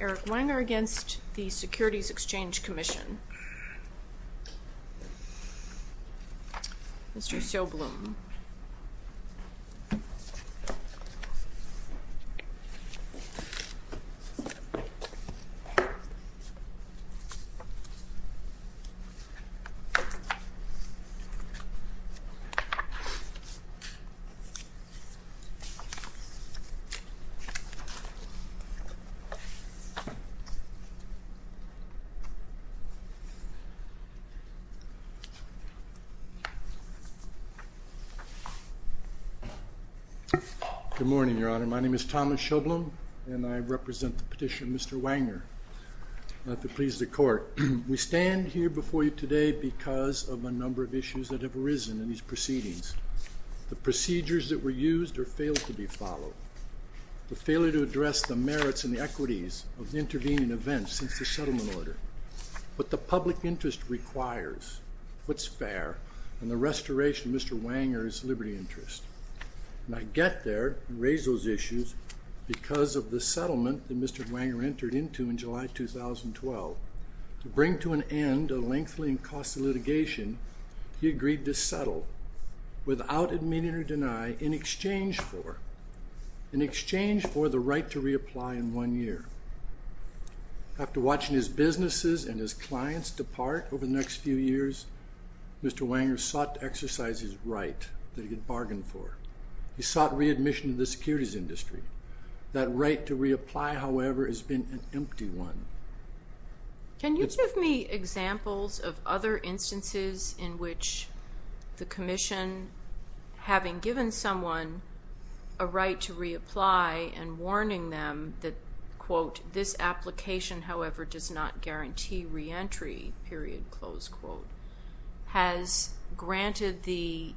Eric Wanger v. Securities Exchange Commission Mr. Sobloom Good morning, Your Honor. My name is Thomas Sobloom, and I represent the petitioner, Mr. Wanger. If it pleases the Court, we stand here before you today because of a number of issues that have arisen in these proceedings. The procedures that were used or failed to be followed, the failure to address the merits and the equities of intervening events since the settlement order, what the public interest requires, what's fair, and the restoration of Mr. Wanger's liberty interest. And I get there and raise those issues because of the settlement that Mr. Wanger entered into in July 2012. To bring to an end a lengthening cost of litigation, he agreed to settle, without admitting or denying, in exchange for the right to reapply in one year. After watching his businesses and his clients depart over the next few years, Mr. Wanger sought to exercise his right that he had bargained for. He sought readmission in the securities industry. That right to reapply, however, has been an empty one. Can you give me examples of other instances in which the Commission, having given someone a right to reapply and warning them that, quote, this application, however, does not guarantee reentry, period, close quote, has granted the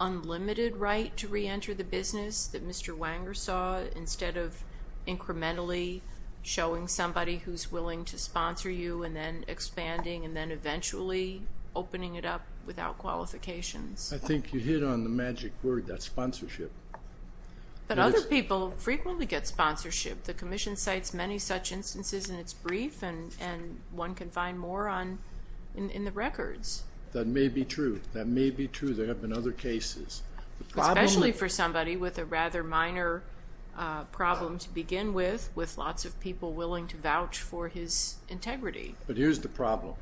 unlimited right to reenter the business that Mr. Wanger saw, instead of incrementally showing somebody who's willing to sponsor you and then expanding and then eventually opening it up without qualifications? I think you hit on the magic word, that's sponsorship. But other people frequently get sponsorship. The Commission cites many such instances in its brief, and one can find more in the records. That may be true. That may be true. There have been other cases. Especially for somebody with a rather minor problem to begin with, with lots of people willing to vouch for his integrity. But here's the problem.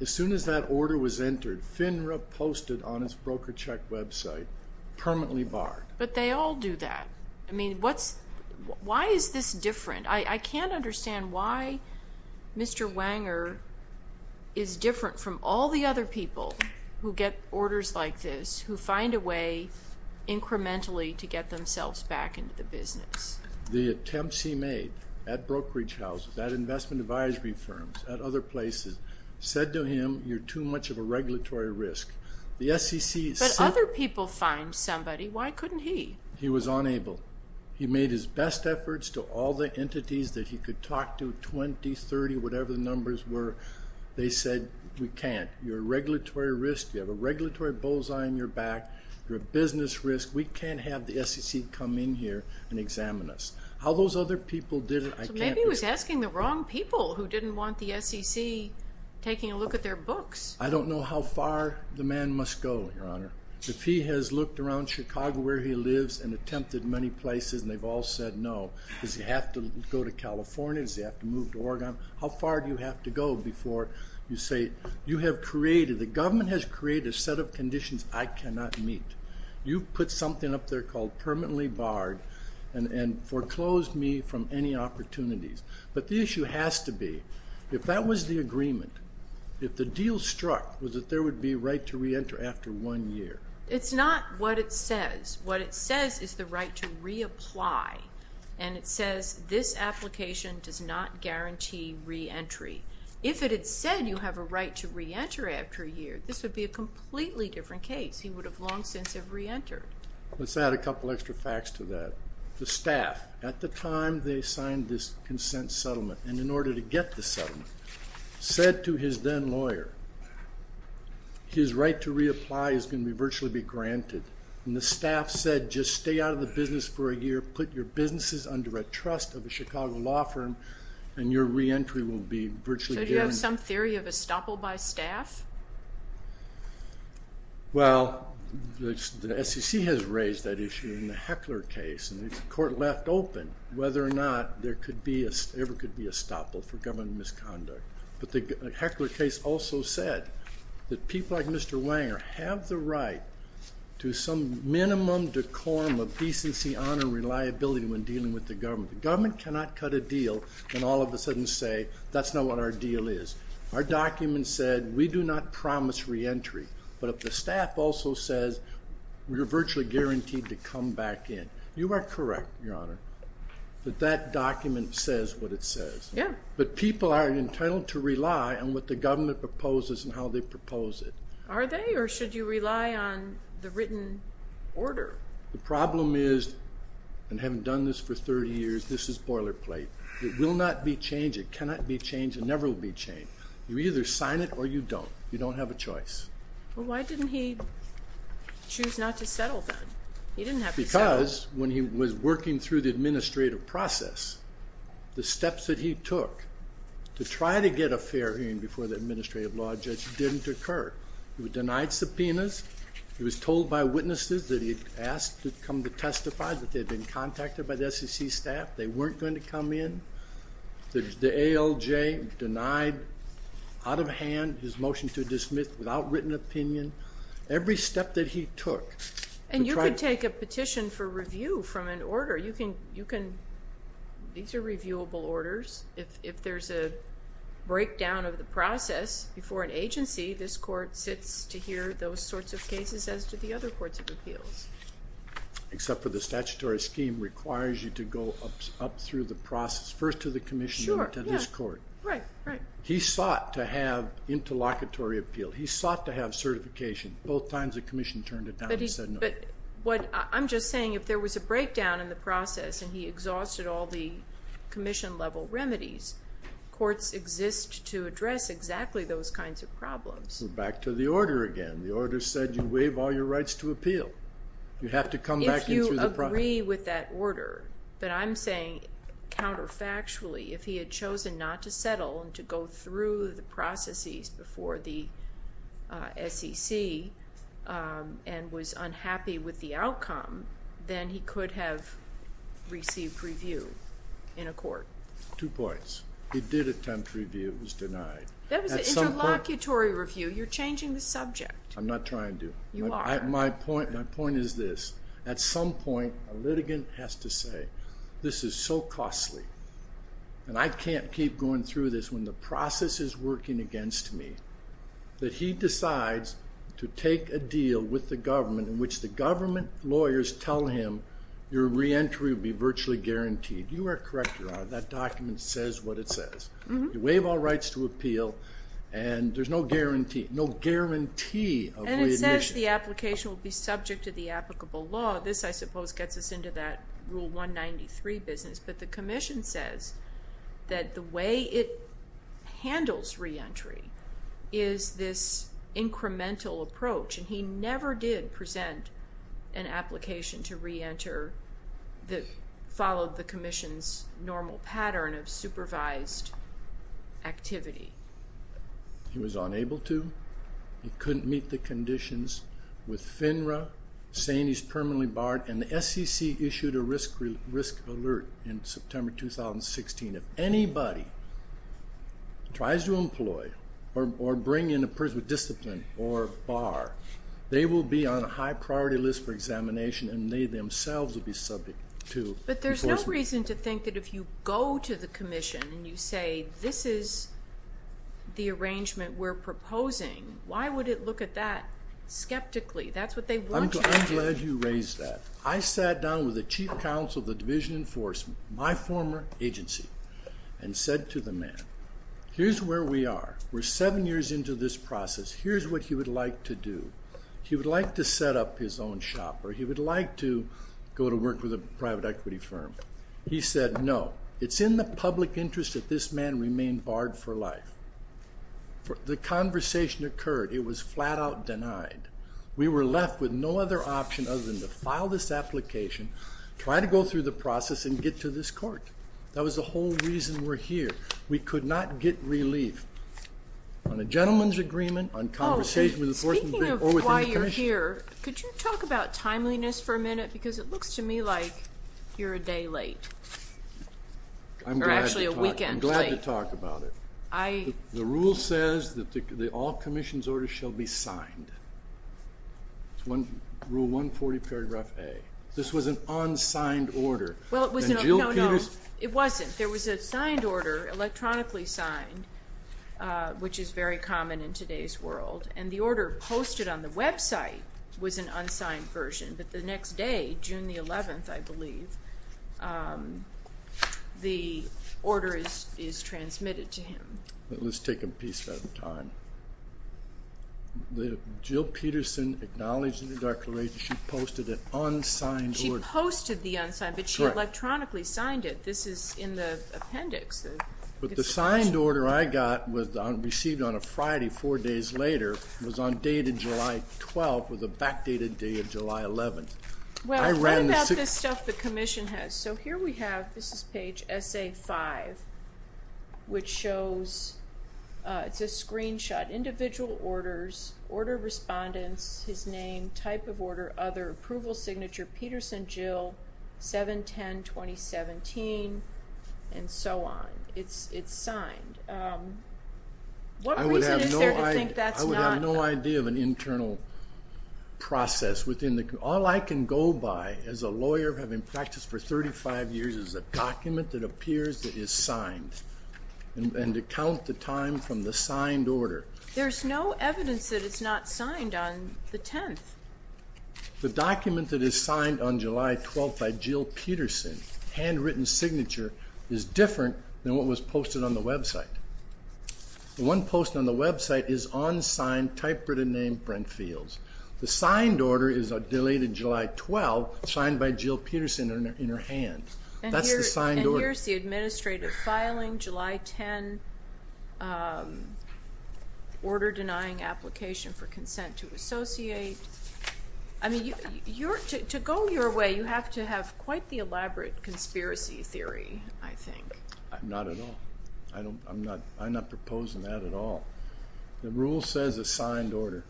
As soon as that order was entered, FINRA posted on its broker check website, permanently barred. But they all do that. I mean, why is this different? I can't understand why Mr. Wanger is different from all the other people who get orders like this, who find a way incrementally to get themselves back into the business. The attempts he made at brokerage houses, at investment advisory firms, at other places, said to him, you're too much of a regulatory risk. But other people find somebody. Why couldn't he? He was unable. He made his best efforts to all the entities that he could talk to, 20, 30, whatever the numbers were. They said, we can't. You're a regulatory risk. You have a regulatory bullseye on your back. You're a business risk. We can't have the SEC come in here and examine us. How those other people did it, I can't. So maybe he was asking the wrong people who didn't want the SEC taking a look at their books. I don't know how far the man must go, Your Honor. If he has looked around Chicago where he lives and attempted many places and they've all said no, does he have to go to California? Does he have to move to Oregon? How far do you have to go before you say you have created, the government has created a set of conditions I cannot meet. You've put something up there called permanently barred and foreclosed me from any opportunities. But the issue has to be, if that was the agreement, if the deal struck was that there would be a right to reenter after one year. It's not what it says. What it says is the right to reapply. And it says this application does not guarantee reentry. If it had said you have a right to reenter after a year, this would be a completely different case. He would have long since have reentered. Let's add a couple extra facts to that. The staff, at the time they signed this consent settlement, and in order to get the settlement, said to his then lawyer, his right to reapply is going to virtually be granted. And the staff said just stay out of the business for a year, put your businesses under a trust of a Chicago law firm, and your reentry will be virtually guaranteed. So do you have some theory of estoppel by staff? Well, the SEC has raised that issue in the Heckler case, and the court left open whether or not there ever could be estoppel for government misconduct. But the Heckler case also said that people like Mr. Wenger have the right to some minimum decorum of decency, honor, and reliability when dealing with the government. The government cannot cut a deal and all of a sudden say that's not what our deal is. Our document said we do not promise reentry. But the staff also says we are virtually guaranteed to come back in. You are correct, Your Honor, that that document says what it says. Yeah. But people are entitled to rely on what the government proposes and how they propose it. Are they, or should you rely on the written order? The problem is, and having done this for 30 years, this is boilerplate. It will not be changed. It cannot be changed. It never will be changed. You either sign it or you don't. You don't have a choice. Well, why didn't he choose not to settle then? He didn't have to settle. Because when he was working through the administrative process, the steps that he took to try to get a fair hearing before the administrative law judge didn't occur. He was denied subpoenas. He was told by witnesses that he had asked to come to testify, that they had been contacted by the SEC staff. They weren't going to come in. The ALJ denied out of hand his motion to dismiss without written opinion. Every step that he took. And you could take a petition for review from an order. These are reviewable orders. If there's a breakdown of the process before an agency, this court sits to hear those sorts of cases as do the other courts of appeals. Except for the statutory scheme requires you to go up through the process, first to the commission and then to this court. Right, right. He sought to have interlocutory appeal. He sought to have certification. Both times the commission turned it down and said no. But what I'm just saying, if there was a breakdown in the process and he exhausted all the commission-level remedies, courts exist to address exactly those kinds of problems. Back to the order again. The order said you waive all your rights to appeal. You have to come back in through the process. If you agree with that order, but I'm saying counterfactually, if he had chosen not to settle and to go through the processes before the SEC and was unhappy with the outcome, then he could have received review in a court. Two points. He did attempt review. It was denied. That was an interlocutory review. You're changing the subject. I'm not trying to. You are. My point is this. At some point, a litigant has to say, this is so costly and I can't keep going through this when the process is working against me, that he decides to take a deal with the government in which the government lawyers tell him your reentry will be virtually guaranteed. You are correct, Your Honor. That document says what it says. You waive all rights to appeal and there's no guarantee of readmission. It says the application will be subject to the applicable law. This, I suppose, gets us into that Rule 193 business, but the Commission says that the way it handles reentry is this incremental approach, and he never did present an application to reenter that followed the Commission's normal pattern of supervised activity. He was unable to. He couldn't meet the conditions with FINRA, saying he's permanently barred, and the SEC issued a risk alert in September 2016. If anybody tries to employ or bring in a person with discipline or bar, they will be on a high-priority list for examination and they themselves will be subject to enforcement. But there's no reason to think that if you go to the Commission and you say this is the arrangement we're proposing, why would it look at that skeptically? That's what they want you to do. I'm glad you raised that. I sat down with the Chief Counsel of the Division of Enforcement, my former agency, and said to the man, here's where we are. We're seven years into this process. Here's what he would like to do. He would like to set up his own shop or he would like to go to work with a private equity firm. He said no. It's in the public interest that this man remain barred for life. The conversation occurred. It was flat-out denied. We were left with no other option other than to file this application, try to go through the process, and get to this court. That was the whole reason we're here. We could not get relief. On a gentleman's agreement, on conversation with enforcement, or with the Commission. Speaking of why you're here, could you talk about timeliness for a minute? Because it looks to me like you're a day late. Or actually a weekend late. I'm glad to talk about it. The rule says that all Commission's orders shall be signed. Rule 140, paragraph A. This was an unsigned order. No, no, it wasn't. There was a signed order, electronically signed, which is very common in today's world. And the order posted on the website was an unsigned version. But the next day, June the 11th, I believe, the order is transmitted to him. Let's take a piece at a time. Jill Peterson acknowledged in her declaration she posted an unsigned order. She posted the unsigned, but she electronically signed it. This is in the appendix. But the signed order I got was received on a Friday, four days later, was on dated July 12th, with a backdated day of July 11th. What about this stuff the Commission has? So here we have, this is page SA-5, which shows, it's a screenshot, individual orders, order respondents, his name, type of order, other, approval signature, Peterson, Jill, 7-10-2017, and so on. It's signed. What reason is there to think that's not? I would have no idea of an internal process. All I can go by as a lawyer having practiced for 35 years is a document that appears to be signed and to count the time from the signed order. There's no evidence that it's not signed on the 10th. The document that is signed on July 12th by Jill Peterson, handwritten signature, is different than what was posted on the website. The one posted on the website is unsigned, typewritten name, Brent Fields. The signed order is a delayed July 12th, signed by Jill Peterson in her hand. That's the signed order. And here's the administrative filing, July 10, order denying application for consent to associate. To go your way, you have to have quite the elaborate conspiracy theory, I think. Not at all. I'm not proposing that at all. The rule says a signed order.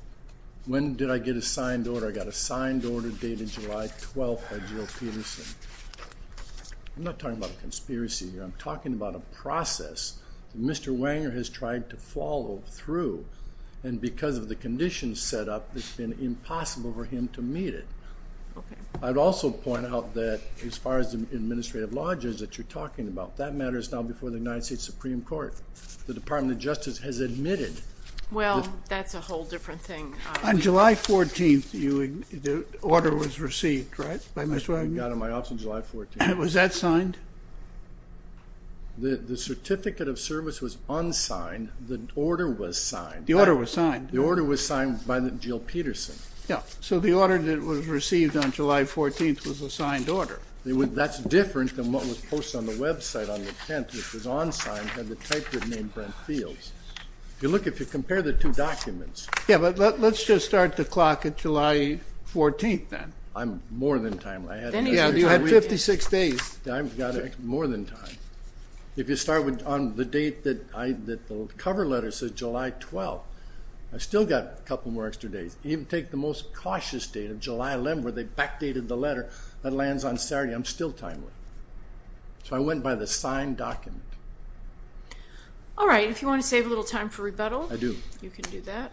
When did I get a signed order? I got a signed order dated July 12th by Jill Peterson. I'm not talking about a conspiracy here. I'm talking about a process that Mr. Wenger has tried to follow through, and because of the conditions set up, it's been impossible for him to meet it. Okay. I'd also point out that as far as the administrative lodges that you're talking about, that matter is now before the United States Supreme Court. The Department of Justice has admitted. Well, that's a whole different thing. On July 14th, the order was received, right, by Mr. Wenger? It got in my office on July 14th. Was that signed? The certificate of service was unsigned. The order was signed. The order was signed. The order was signed by Jill Peterson. Yeah. So the order that was received on July 14th was a signed order. That's different than what was posted on the website on the 10th, which was unsigned, and the type was named Brent Fields. If you look, if you compare the two documents. Yeah, but let's just start the clock at July 14th then. I'm more than time. Yeah, you had 56 days. I've got more than time. If you start on the date that the cover letter says July 12th, I've still got a couple more extra days. Even take the most cautious date of July 11th where they backdated the letter. That lands on Saturday. I'm still timely. So I went by the signed document. All right. If you want to save a little time for rebuttal. I do. You can do that.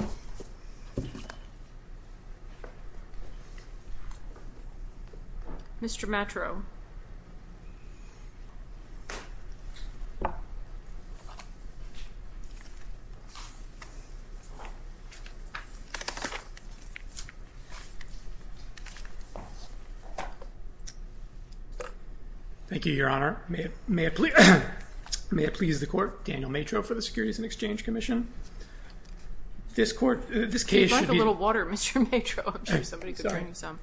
All right. Mr. Matro. Thank you, Your Honor. May it please the court, Daniel Matro for the Securities and Exchange Commission. This case should be. I'd like a little water, Mr. Matro. I'm sure somebody could bring you some.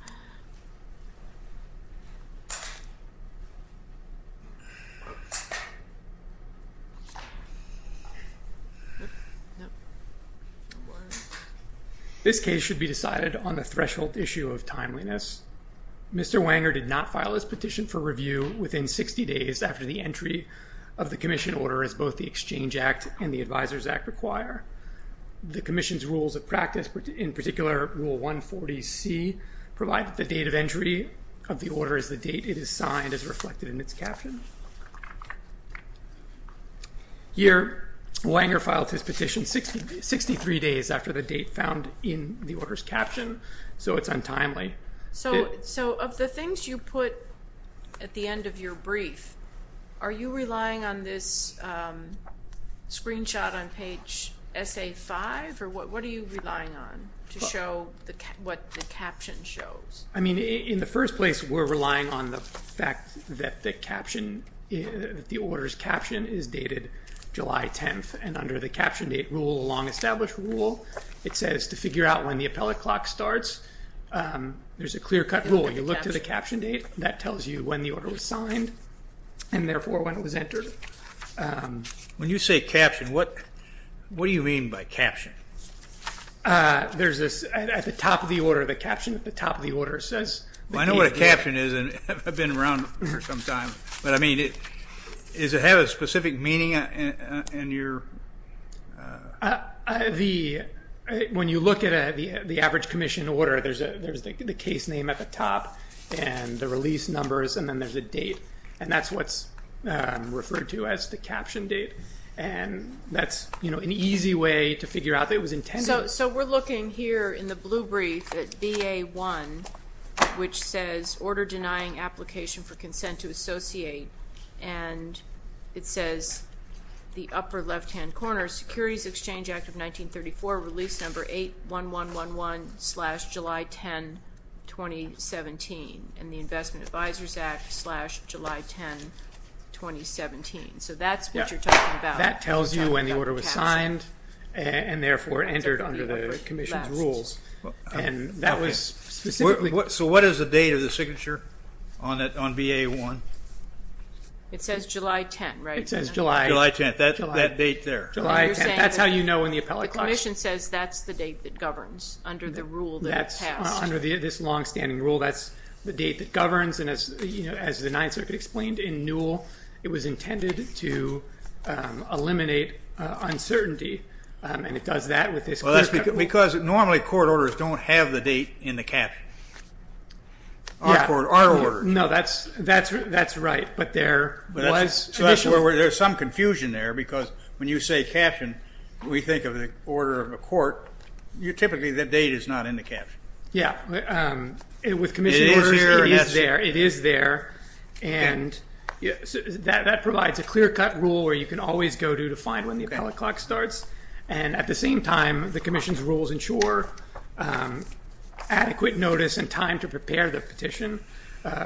This case should be decided on the threshold issue of timeliness. Mr. Wanger did not file his petition for review within 60 days after the entry of the commission order as both the Exchange Act and the Advisors Act require. The commission's rules of practice, in particular Rule 140C, provide that the date of entry of the order is the date it is signed as reflected in its caption. Here, Wanger filed his petition 63 days after the date found in the order's caption. So it's untimely. So of the things you put at the end of your brief, are you relying on this screenshot on page SA-5, or what are you relying on to show what the caption shows? I mean, in the first place, we're relying on the fact that the caption, the order's caption, is dated July 10th. And under the caption date rule along established rule, it says to figure out when the appellate clock starts. There's a clear-cut rule. You look to the caption date. That tells you when the order was signed and, therefore, when it was entered. When you say caption, what do you mean by caption? There's this, at the top of the order, the caption at the top of the order says. I know what a caption is. I've been around for some time. But, I mean, does it have a specific meaning in your? When you look at the average commission order, there's the case name at the top and the release numbers, and then there's a date. And that's what's referred to as the caption date. And that's an easy way to figure out that it was intended. So we're looking here in the blue brief at BA-1, which says order denying application for consent to associate. And it says the upper left-hand corner, Securities Exchange Act of 1934, release number 81111-July 10, 2017, and the Investment Advisors Act-July 10, 2017. So that's what you're talking about. That tells you when the order was signed and, therefore, entered under the commission's rules. So what is the date of the signature on BA-1? It says July 10, right? It says July. July 10. That date there. July 10. That's how you know in the appellate class. The commission says that's the date that governs under the rule that passed. Under this long-standing rule, that's the date that governs. And, as the Ninth Circuit explained in Newell, it was intended to eliminate uncertainty, and it does that with this clear caption. Well, that's because normally court orders don't have the date in the caption. Yeah. Our orders. No, that's right. But there was additional. There's some confusion there because when you say caption, we think of the order of a court. Typically, that date is not in the caption. Yeah. With commission orders, it is there. It is there. And that provides a clear-cut rule where you can always go to to find when the appellate clock starts. And, at the same time, the commission's rules ensure adequate notice and time to prepare the petition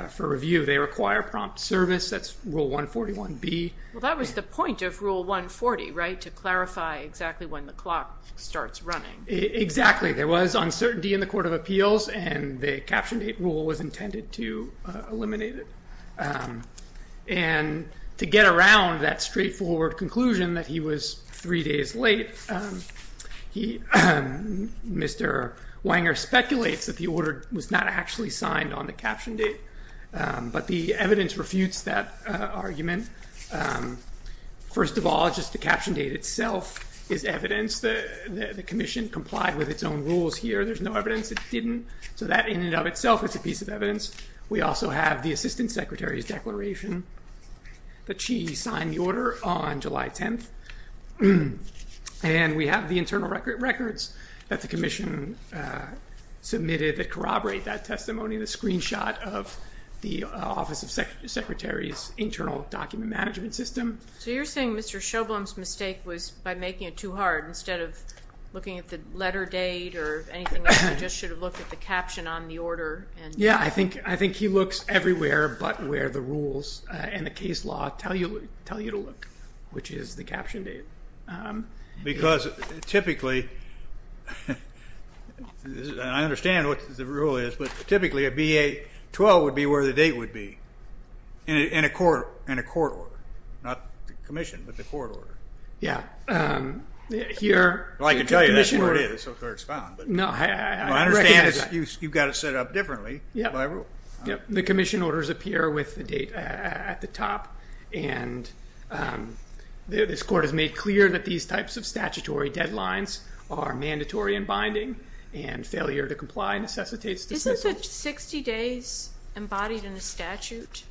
for review. They require prompt service. That's Rule 141B. Well, that was the point of Rule 140, right, to clarify exactly when the clock starts running. Exactly. There was uncertainty in the Court of Appeals, and the caption date rule was intended to eliminate it. And to get around that straightforward conclusion that he was three days late, Mr. Wanger speculates that the order was not actually signed on the caption date, but the evidence refutes that argument. First of all, just the caption date itself is evidence that the commission complied with its own rules here. There's no evidence it didn't. So that, in and of itself, is a piece of evidence. We also have the Assistant Secretary's declaration that she signed the order on July 10th. And we have the internal records that the commission submitted that corroborate that testimony, the screenshot of the Office of Secretary's internal document management system. So you're saying Mr. Sjoblom's mistake was by making it too hard, instead of looking at the letter date or anything else. Yeah, I think he looks everywhere but where the rules and the case law tell you to look, which is the caption date. Because typically, and I understand what the rule is, but typically a BA-12 would be where the date would be in a court order, not the commission, but the court order. Yeah. Well, I can tell you that's where it is. That's where it's found. I understand you've got it set up differently. The commission orders appear with the date at the top, and this court has made clear that these types of statutory deadlines are mandatory and binding, and failure to comply necessitates dismissal. Isn't the 60 days embodied in the statute?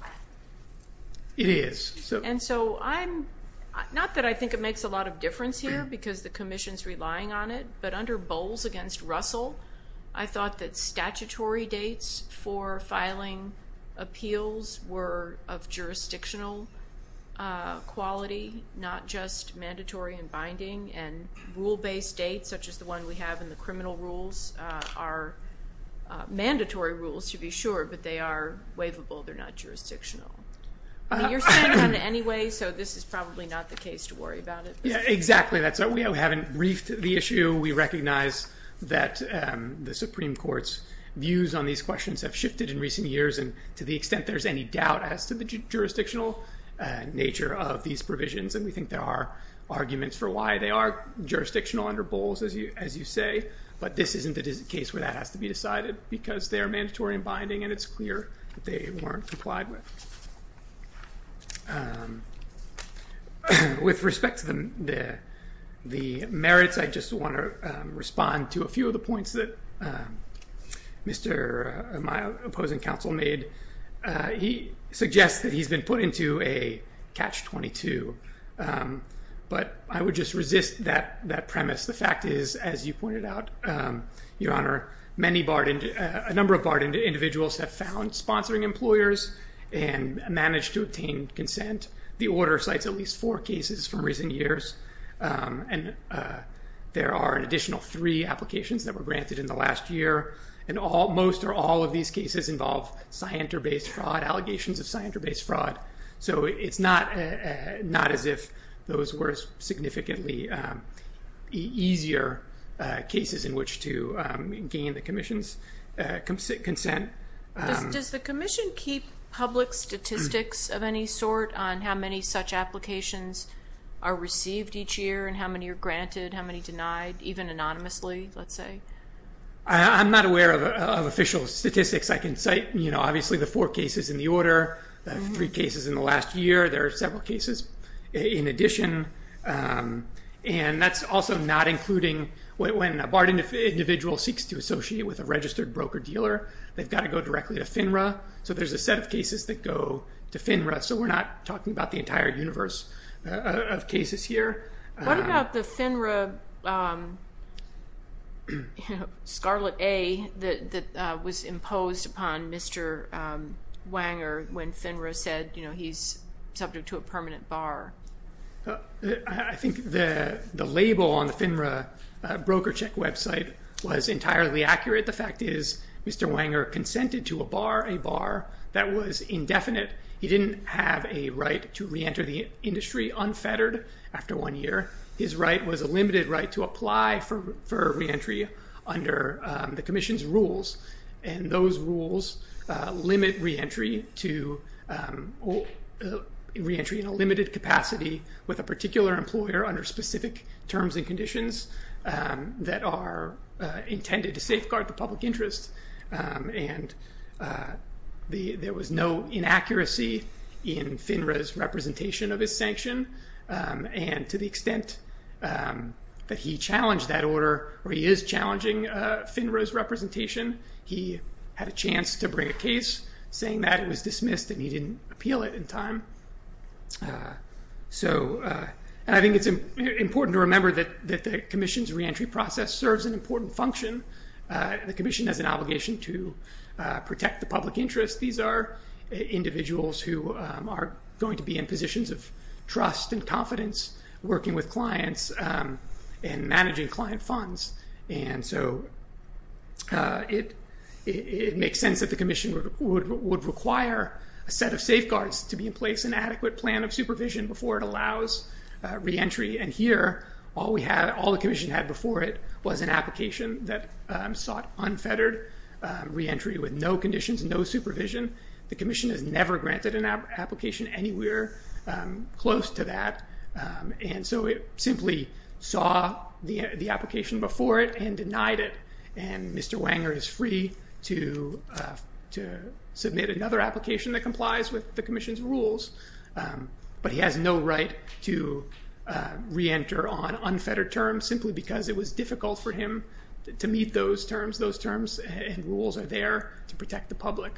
It is. And so I'm not that I think it makes a lot of difference here because the commission's relying on it, but under Bowles against Russell, I thought that statutory dates for filing appeals were of jurisdictional quality, not just mandatory and binding. And rule-based dates, such as the one we have in the criminal rules, are mandatory rules to be sure, but they are waivable. They're not jurisdictional. You're saying that anyway, so this is probably not the case to worry about it. Yeah, exactly. We haven't briefed the issue. We recognize that the Supreme Court's views on these questions have shifted in recent years, and to the extent there's any doubt as to the jurisdictional nature of these provisions, and we think there are arguments for why they are jurisdictional under Bowles, as you say, but this isn't the case where that has to be decided because they're mandatory and binding, and it's clear that they weren't complied with. With respect to the merits, I just want to respond to a few of the points that my opposing counsel made. He suggests that he's been put into a catch-22, but I would just resist that premise. The fact is, as you pointed out, Your Honor, a number of barred individuals have found sponsoring employers and managed to obtain consent. The order cites at least four cases from recent years, and there are an additional three applications that were granted in the last year, and most or all of these cases involve Scienter-based fraud, allegations of Scienter-based fraud, so it's not as if those were significantly easier cases in which to gain the Commission's consent. Does the Commission keep public statistics of any sort on how many such applications are received each year and how many are granted, how many denied, even anonymously, let's say? I'm not aware of official statistics. I can cite obviously the four cases in the order, the three cases in the last year. There are several cases in addition, and that's also not including when a barred individual seeks to associate with a registered broker-dealer, they've got to go directly to FINRA, so there's a set of cases that go to FINRA, so we're not talking about the entire universe of cases here. What about the FINRA Scarlet A that was imposed upon Mr. Wanger when FINRA said he's subject to a permanent bar? I think the label on the FINRA broker check website was entirely accurate. The fact is Mr. Wanger consented to a bar, a bar that was indefinite. He didn't have a right to reenter the industry unfettered after one year. His right was a limited right to apply for reentry under the Commission's rules, and those rules limit reentry to reentry in a limited capacity with a particular employer under specific terms and conditions that are intended to safeguard the public interest, and there was no inaccuracy in FINRA's representation of his sanction, and to the extent that he challenged that order, or he is challenging FINRA's representation, he had a chance to bring a case saying that it was dismissed and he didn't appeal it in time. So I think it's important to remember that the Commission's reentry process serves an important function. The Commission has an obligation to protect the public interest. These are individuals who are going to be in positions of trust and confidence working with clients and managing client funds, and so it makes sense that the Commission would require a set of safeguards to be in place, an adequate plan of supervision before it allows reentry, and here all the Commission had before it was an application that sought unfettered reentry with no conditions, no supervision. The Commission has never granted an application anywhere close to that, and so it simply saw the application before it and denied it, and Mr. Wanger is free to submit another application that complies with the Commission's rules, but he has no right to reenter on unfettered terms simply because it was difficult for him to meet those terms. Those terms and rules are there to protect the public.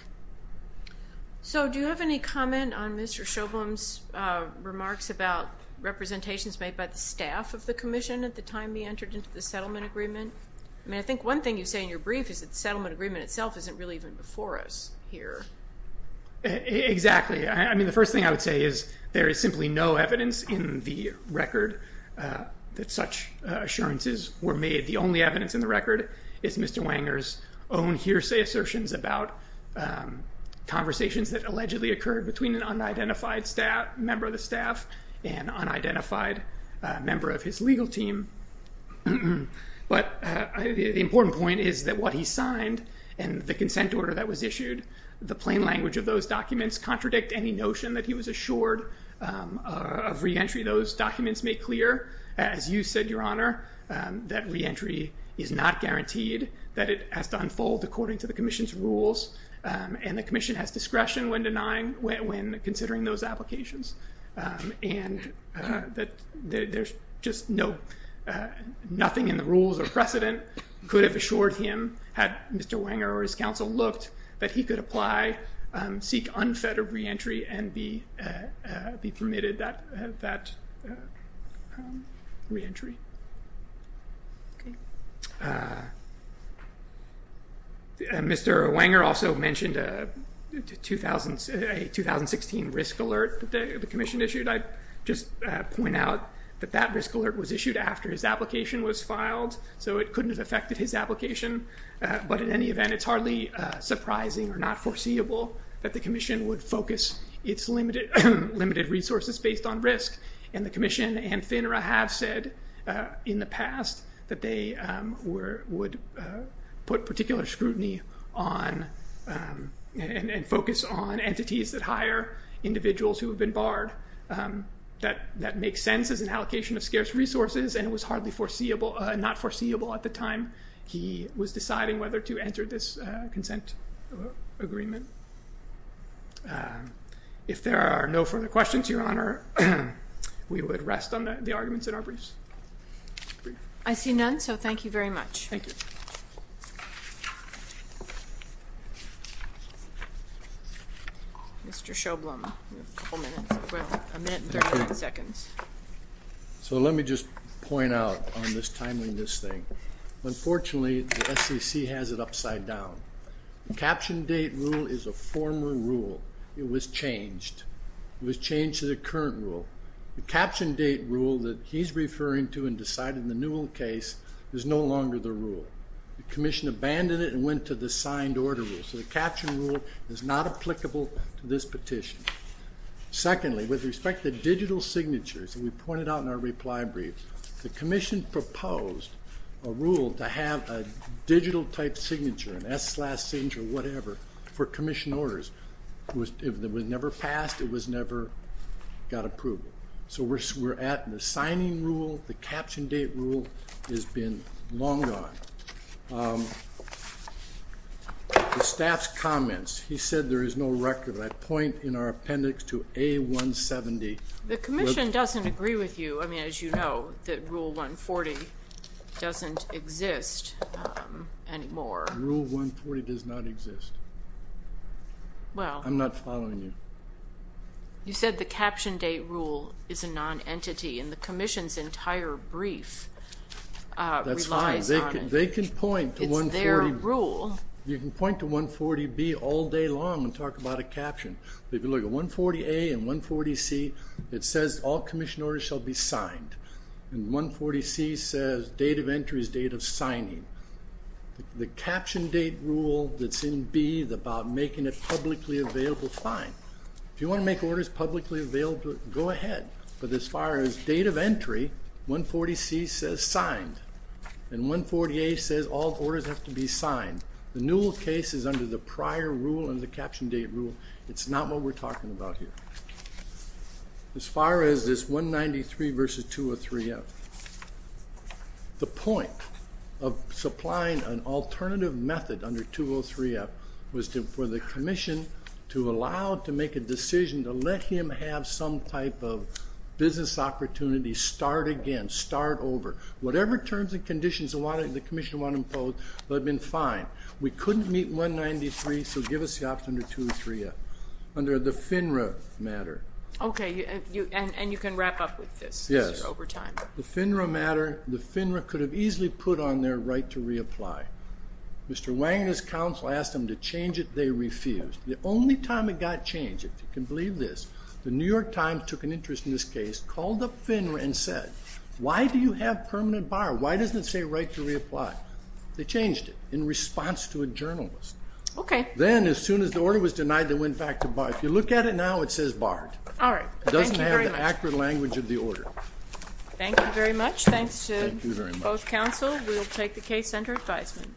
So do you have any comment on Mr. Shobham's remarks about representations made by the staff of the Commission at the time he entered into the settlement agreement? I mean, I think one thing you say in your brief is that the settlement agreement itself isn't really even before us here. Exactly. I mean, the first thing I would say is there is simply no evidence in the record that such assurances were made. The only evidence in the record is Mr. Wanger's own hearsay assertions about conversations that allegedly occurred between an unidentified member of the staff and an unidentified member of his legal team, but the important point is that what he signed and the consent order that was issued, the plain language of those documents contradict any notion that he was assured of reentry. Those documents make clear, as you said, Your Honor, that reentry is not guaranteed, that it has to unfold according to the Commission's rules, and the Commission has discretion when considering those applications, and that there's just nothing in the rules or precedent could have assured him, had Mr. Wanger or his counsel looked, that he could apply, seek unfettered reentry, and be permitted that reentry. Mr. Wanger also mentioned a 2016 risk alert that the Commission issued. I'd just point out that that risk alert was issued after his application was filed, so it couldn't have affected his application, but in any event, it's hardly surprising or not foreseeable that the Commission would focus its limited resources based on risk, and the Commission and FINRA have said in the past that they would put particular scrutiny on and focus on entities that hire individuals who have been barred. That makes sense as an allocation of scarce resources, and it was hardly not foreseeable at the time he was deciding whether to enter this consent agreement. If there are no further questions, Your Honor, we would rest on the arguments in our briefs. I see none, so thank you very much. Thank you. Mr. Sjoblom, you have a couple minutes, a minute and 39 seconds. So let me just point out on this timeliness thing. Unfortunately, the SEC has it upside down. The caption date rule is a former rule. It was changed. It was changed to the current rule. The caption date rule that he's referring to and decided in the Newell case is no longer the rule. The Commission abandoned it and went to the signed order rule, so the caption rule is not applicable to this petition. Secondly, with respect to digital signatures, as we pointed out in our reply brief, the Commission proposed a rule to have a digital-type signature, an S-slash signature, whatever, for Commission orders. It was never passed. It was never got approval. So we're at the signing rule. The caption date rule has been long gone. The staff's comments, he said there is no record. I point in our appendix to A-170. The Commission doesn't agree with you. I mean, as you know, that Rule 140 doesn't exist anymore. Rule 140 does not exist. I'm not following you. You said the caption date rule is a non-entity, and the Commission's entire brief relies on it. That's fine. They can point to 140. It's their rule. You can point to 140-B all day long and talk about a caption. But if you look at 140-A and 140-C, it says all Commission orders shall be signed. And 140-C says date of entry is date of signing. The caption date rule that's in B about making it publicly available, fine. If you want to make orders publicly available, go ahead. But as far as date of entry, 140-C says signed. And 140-A says all orders have to be signed. The Newell case is under the prior rule and the caption date rule. It's not what we're talking about here. As far as this 193 versus 203-F, the point of supplying an alternative method under 203-F was for the Commission to allow to make a decision to let him have some type of business opportunity, start again, start over. Whatever terms and conditions the Commission wanted to impose would have been fine. We couldn't meet 193, so give us the option under 203-F. Under the FINRA matter. Okay, and you can wrap up with this as you're over time. Yes. The FINRA matter, the FINRA could have easily put on their right to reapply. Mr. Wang and his counsel asked them to change it. They refused. The only time it got changed, if you can believe this, the New York Times took an interest in this case, called up FINRA and said, why do you have permanent bar? Why doesn't it say right to reapply? They changed it in response to a journalist. Okay. Then, as soon as the order was denied, they went back to bar. If you look at it now, it says barred. All right. It doesn't have the accurate language of the order. Thank you very much. Thanks to both counsel. We'll take the case under advisement.